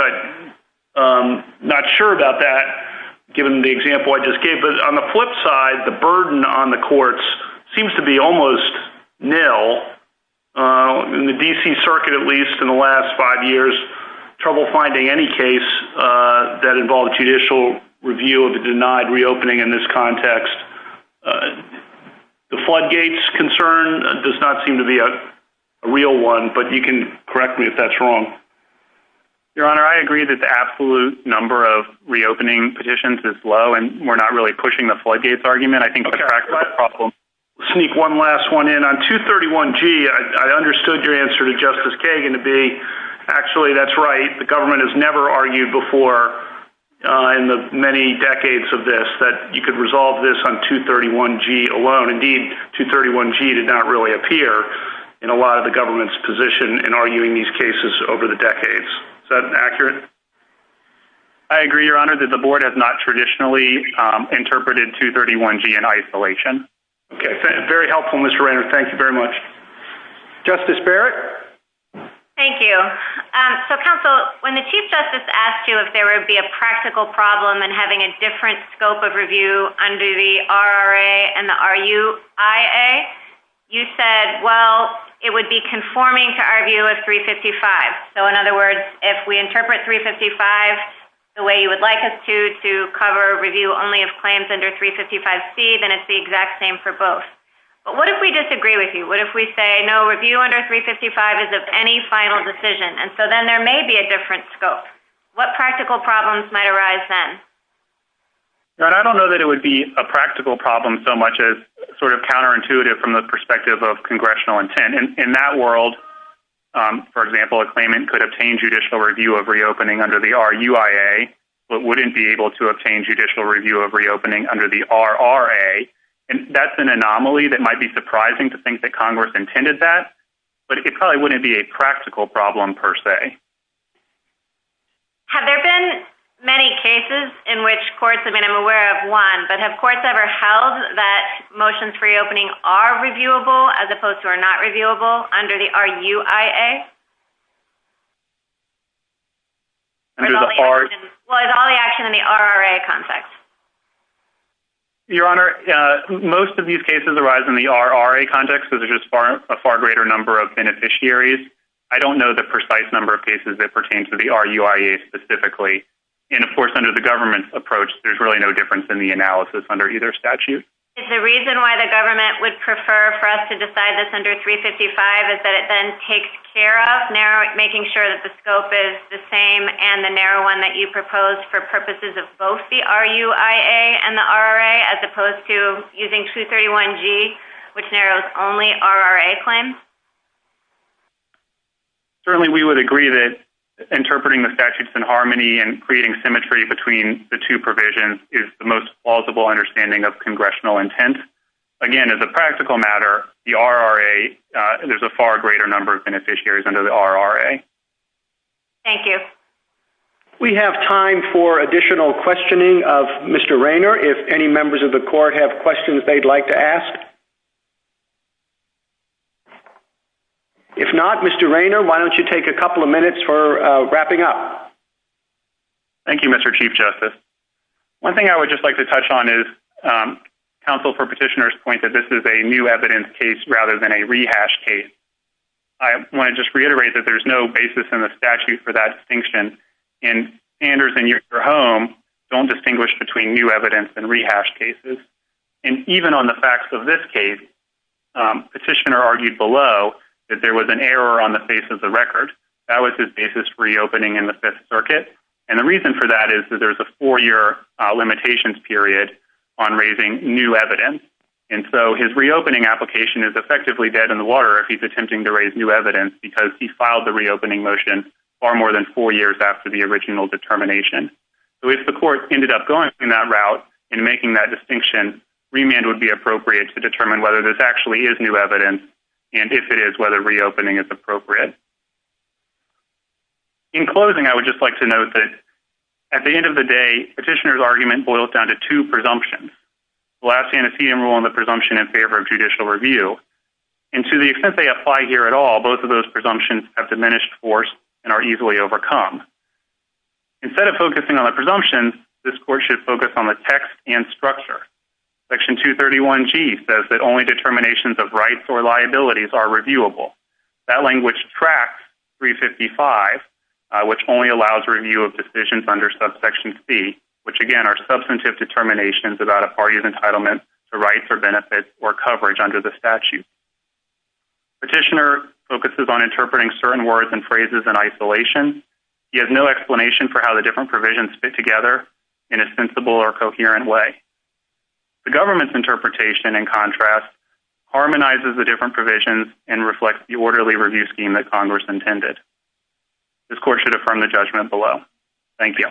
I'm not sure about that, given the example I just gave. But on the flip side, the burden on the courts seems to be almost nil in the D.C. circuit, at least in the last five years. Trouble finding any case that involved judicial review of a denied reopening in this context. The floodgates concern does not seem to be a real one, but you can correct me if that's wrong. Your Honor, I agree that the absolute number of reopening petitions is low, and we're not really pushing the floodgates argument. I think that's my problem. Sneak one last one in. On 231G, I understood your answer to Justice Kagan to be actually that's right. The government has never argued before in the many decades of this that you could resolve this on 231G alone. Indeed, 231G did not really appear in a lot of the government's position in arguing these decades. Is that accurate? I agree, Your Honor, that the board has not traditionally interpreted 231G in isolation. Okay. Very helpful, Mr. Reynolds. Thank you very much. Justice Barrett? Thank you. So, counsel, when the Chief Justice asked you if there would be a practical problem in having a different scope of review under the RRA and the RUIA, you said, well, it would be conforming to our view of 355. So, in other words, if we interpret 355 the way you would like us to to cover review only of claims under 355C, then it's the exact same for both. But what if we disagree with you? What if we say, no, review under 355 is of any final decision? And so then there may be a different scope. What practical problems might arise then? Your Honor, I don't know that it would be a practical problem so much as sort of counterintuitive from the perspective of congressional intent. In that world, for example, a claimant could obtain judicial review of reopening under the RUIA, but wouldn't be able to obtain judicial review of reopening under the RRA. And that's an anomaly that might be surprising to think that Congress intended that. But it probably wouldn't be a practical problem per se. Have there been many cases in which courts, I mean, I'm aware of one, but have courts ever held that motions for reopening are reviewable as opposed to are not reviewable under the RUIA? Well, is all the action in the RRA context? Your Honor, most of these cases arise in the RRA context, which is a far greater number of beneficiaries. I don't know the precise number of cases that pertain to the RUIA specifically. And of course, under the government's approach, there's really no difference in the analysis under either statute. Is the reason why the government would prefer for us to decide this under 355 is that it then takes care of making sure that the scope is the same and the narrow one that you proposed for purposes of both the RUIA and the RRA as opposed to using 231G, which narrows only RRA claims? Certainly, we would agree that interpreting the statutes in harmony and creating symmetry between the two provisions is the most plausible understanding of congressional intent. Again, as a practical matter, the RRA, there's a far greater number of beneficiaries under the RRA. Thank you. We have time for additional questioning of Mr. Raynor. If any members of the court have questions they'd like to ask. If not, Mr. Raynor, why don't you take a couple of minutes for wrapping up? Thank you, Mr. Chief Justice. One thing I would just like to touch on is counsel for petitioners point that this is a new evidence case rather than a rehash case. I want to just reiterate that there's no basis in the statute for that distinction. Standards in your home don't distinguish between new evidence and rehash cases. Even on the facts of this case, petitioner argued below that there was an error on the face of the record. That was his basis for reopening in the Fifth Circuit. The reason for that is that there's a four-year limitations period on raising new evidence. His reopening application is effectively dead in the water if he's attempting to raise new evidence because he filed the reopening motion far more than four years after the original determination. If the court ended up going that route and making that distinction, remand would be appropriate to determine whether this actually is new evidence and if it is, whether reopening is appropriate. In closing, I would just like to note that at the end of the day, petitioner's argument boils down to two presumptions. The last hand is he enrolled in the presumption in favor of judicial review. And to the extent they apply here at all, both of those presumptions have diminished force and are easily overcome. Instead of focusing on the presumption, this court should focus on the text and structure. Section 231G says that only determinations of rights or liabilities are reviewable. That language tracks 355, which only allows review of decisions under subsection C, which, again, are substantive determinations about a party's entitlement to rights or benefits or coverage under the statute. Petitioner focuses on interpreting certain words and phrases in isolation. He has no explanation for how the different interpretation and contrast harmonizes the different provisions and reflects the orderly review scheme that Congress intended. This court should affirm the judgment below. Thank you.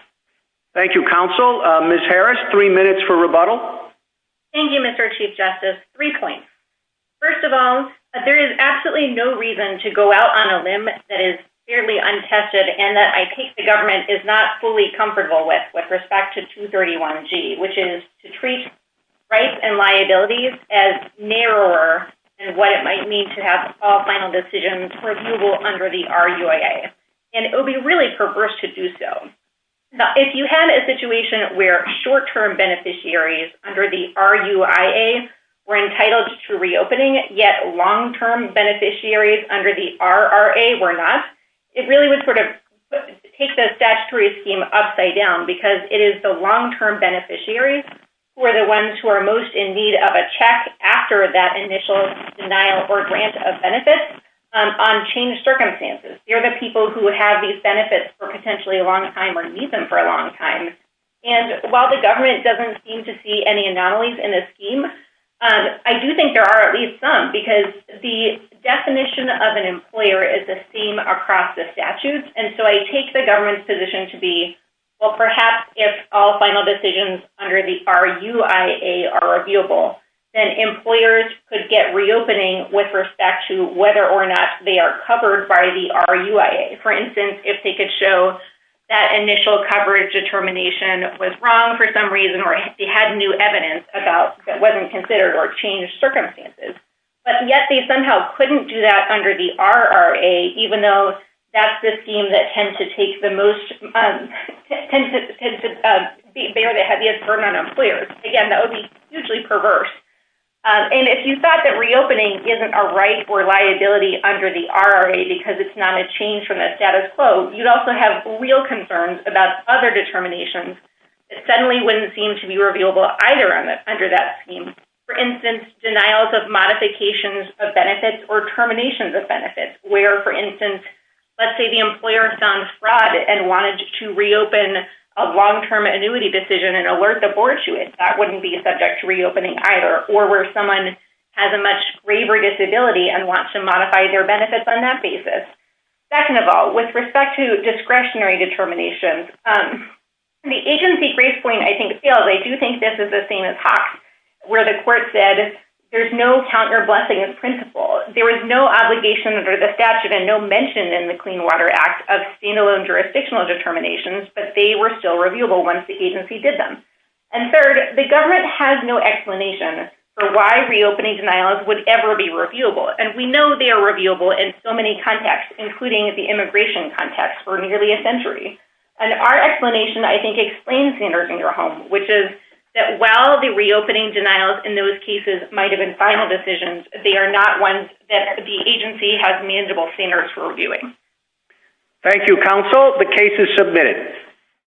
Thank you, Counsel. Ms. Harris, three minutes for rebuttal. Thank you, Mr. Chief Justice. Three points. First of all, there is absolutely no reason to go out on a limb that is fairly untested and that I think the government is not fully aware of. I think it would be really perverse to do so. If you had a situation where short-term beneficiaries under the RUIA were entitled to reopening yet long-term beneficiaries under the RRA were not, it really would sort of take the statutory scheme upside down because it is the long-term beneficiaries who are the ones who are most in need of a check after that initial denial or grant of benefits on changed circumstances. They're the people who have these benefits for potentially a long time or need them for a long time. And while the government doesn't seem to see any anomalies in the scheme, I do think there are at least some because the definition of an employer is the same across the statutes. And so I take the government's position to be well, perhaps if all final decisions under the RUIA are reviewable, then employers could get reopening with respect to whether or not they are covered by the RUIA. For instance, if they could show that initial coverage determination was wrong for some reason or if they had new evidence about that wasn't considered or changed circumstances. But yet they somehow couldn't do that under the RRA, even though that's the scheme that tends to take the most, tends to bear the heaviest burden on employers. Again, that would be hugely perverse. And if you thought that reopening isn't a right or liability under the RRA because it's not a change from the status quo, you'd also have real concerns about other determinations that suddenly wouldn't seem to be reviewable either under that scheme. For instance, denials of modifications of benefits or terminations of benefits where, for instance, let's say the employer found fraud and wanted to reopen a long-term annuity decision and alert the board to it. That wouldn't be subject to reopening either or where someone has a much graver disability and wants to modify their benefits on that basis. Second of all, with respect to discretionary determinations, the agency grace point, I think, fails. I do think this is the same as HAWQs where the court said there's no counter-blessing of principle. There was no obligation under the statute and no mention in the Clean Water Act of standalone jurisdictional determinations, but they were still reviewable once the agency did them. And third, the government has no explanation for why reopening denials would ever be reviewable. And we know they are reviewable in so many contexts, including the immigration context for nearly a century. And our explanation, I think, explains standards in your home, which is that while the reopening denials in those cases might have been final decisions, they are not ones that the agency has manageable standards for reviewing. Thank you, counsel. The case is submitted.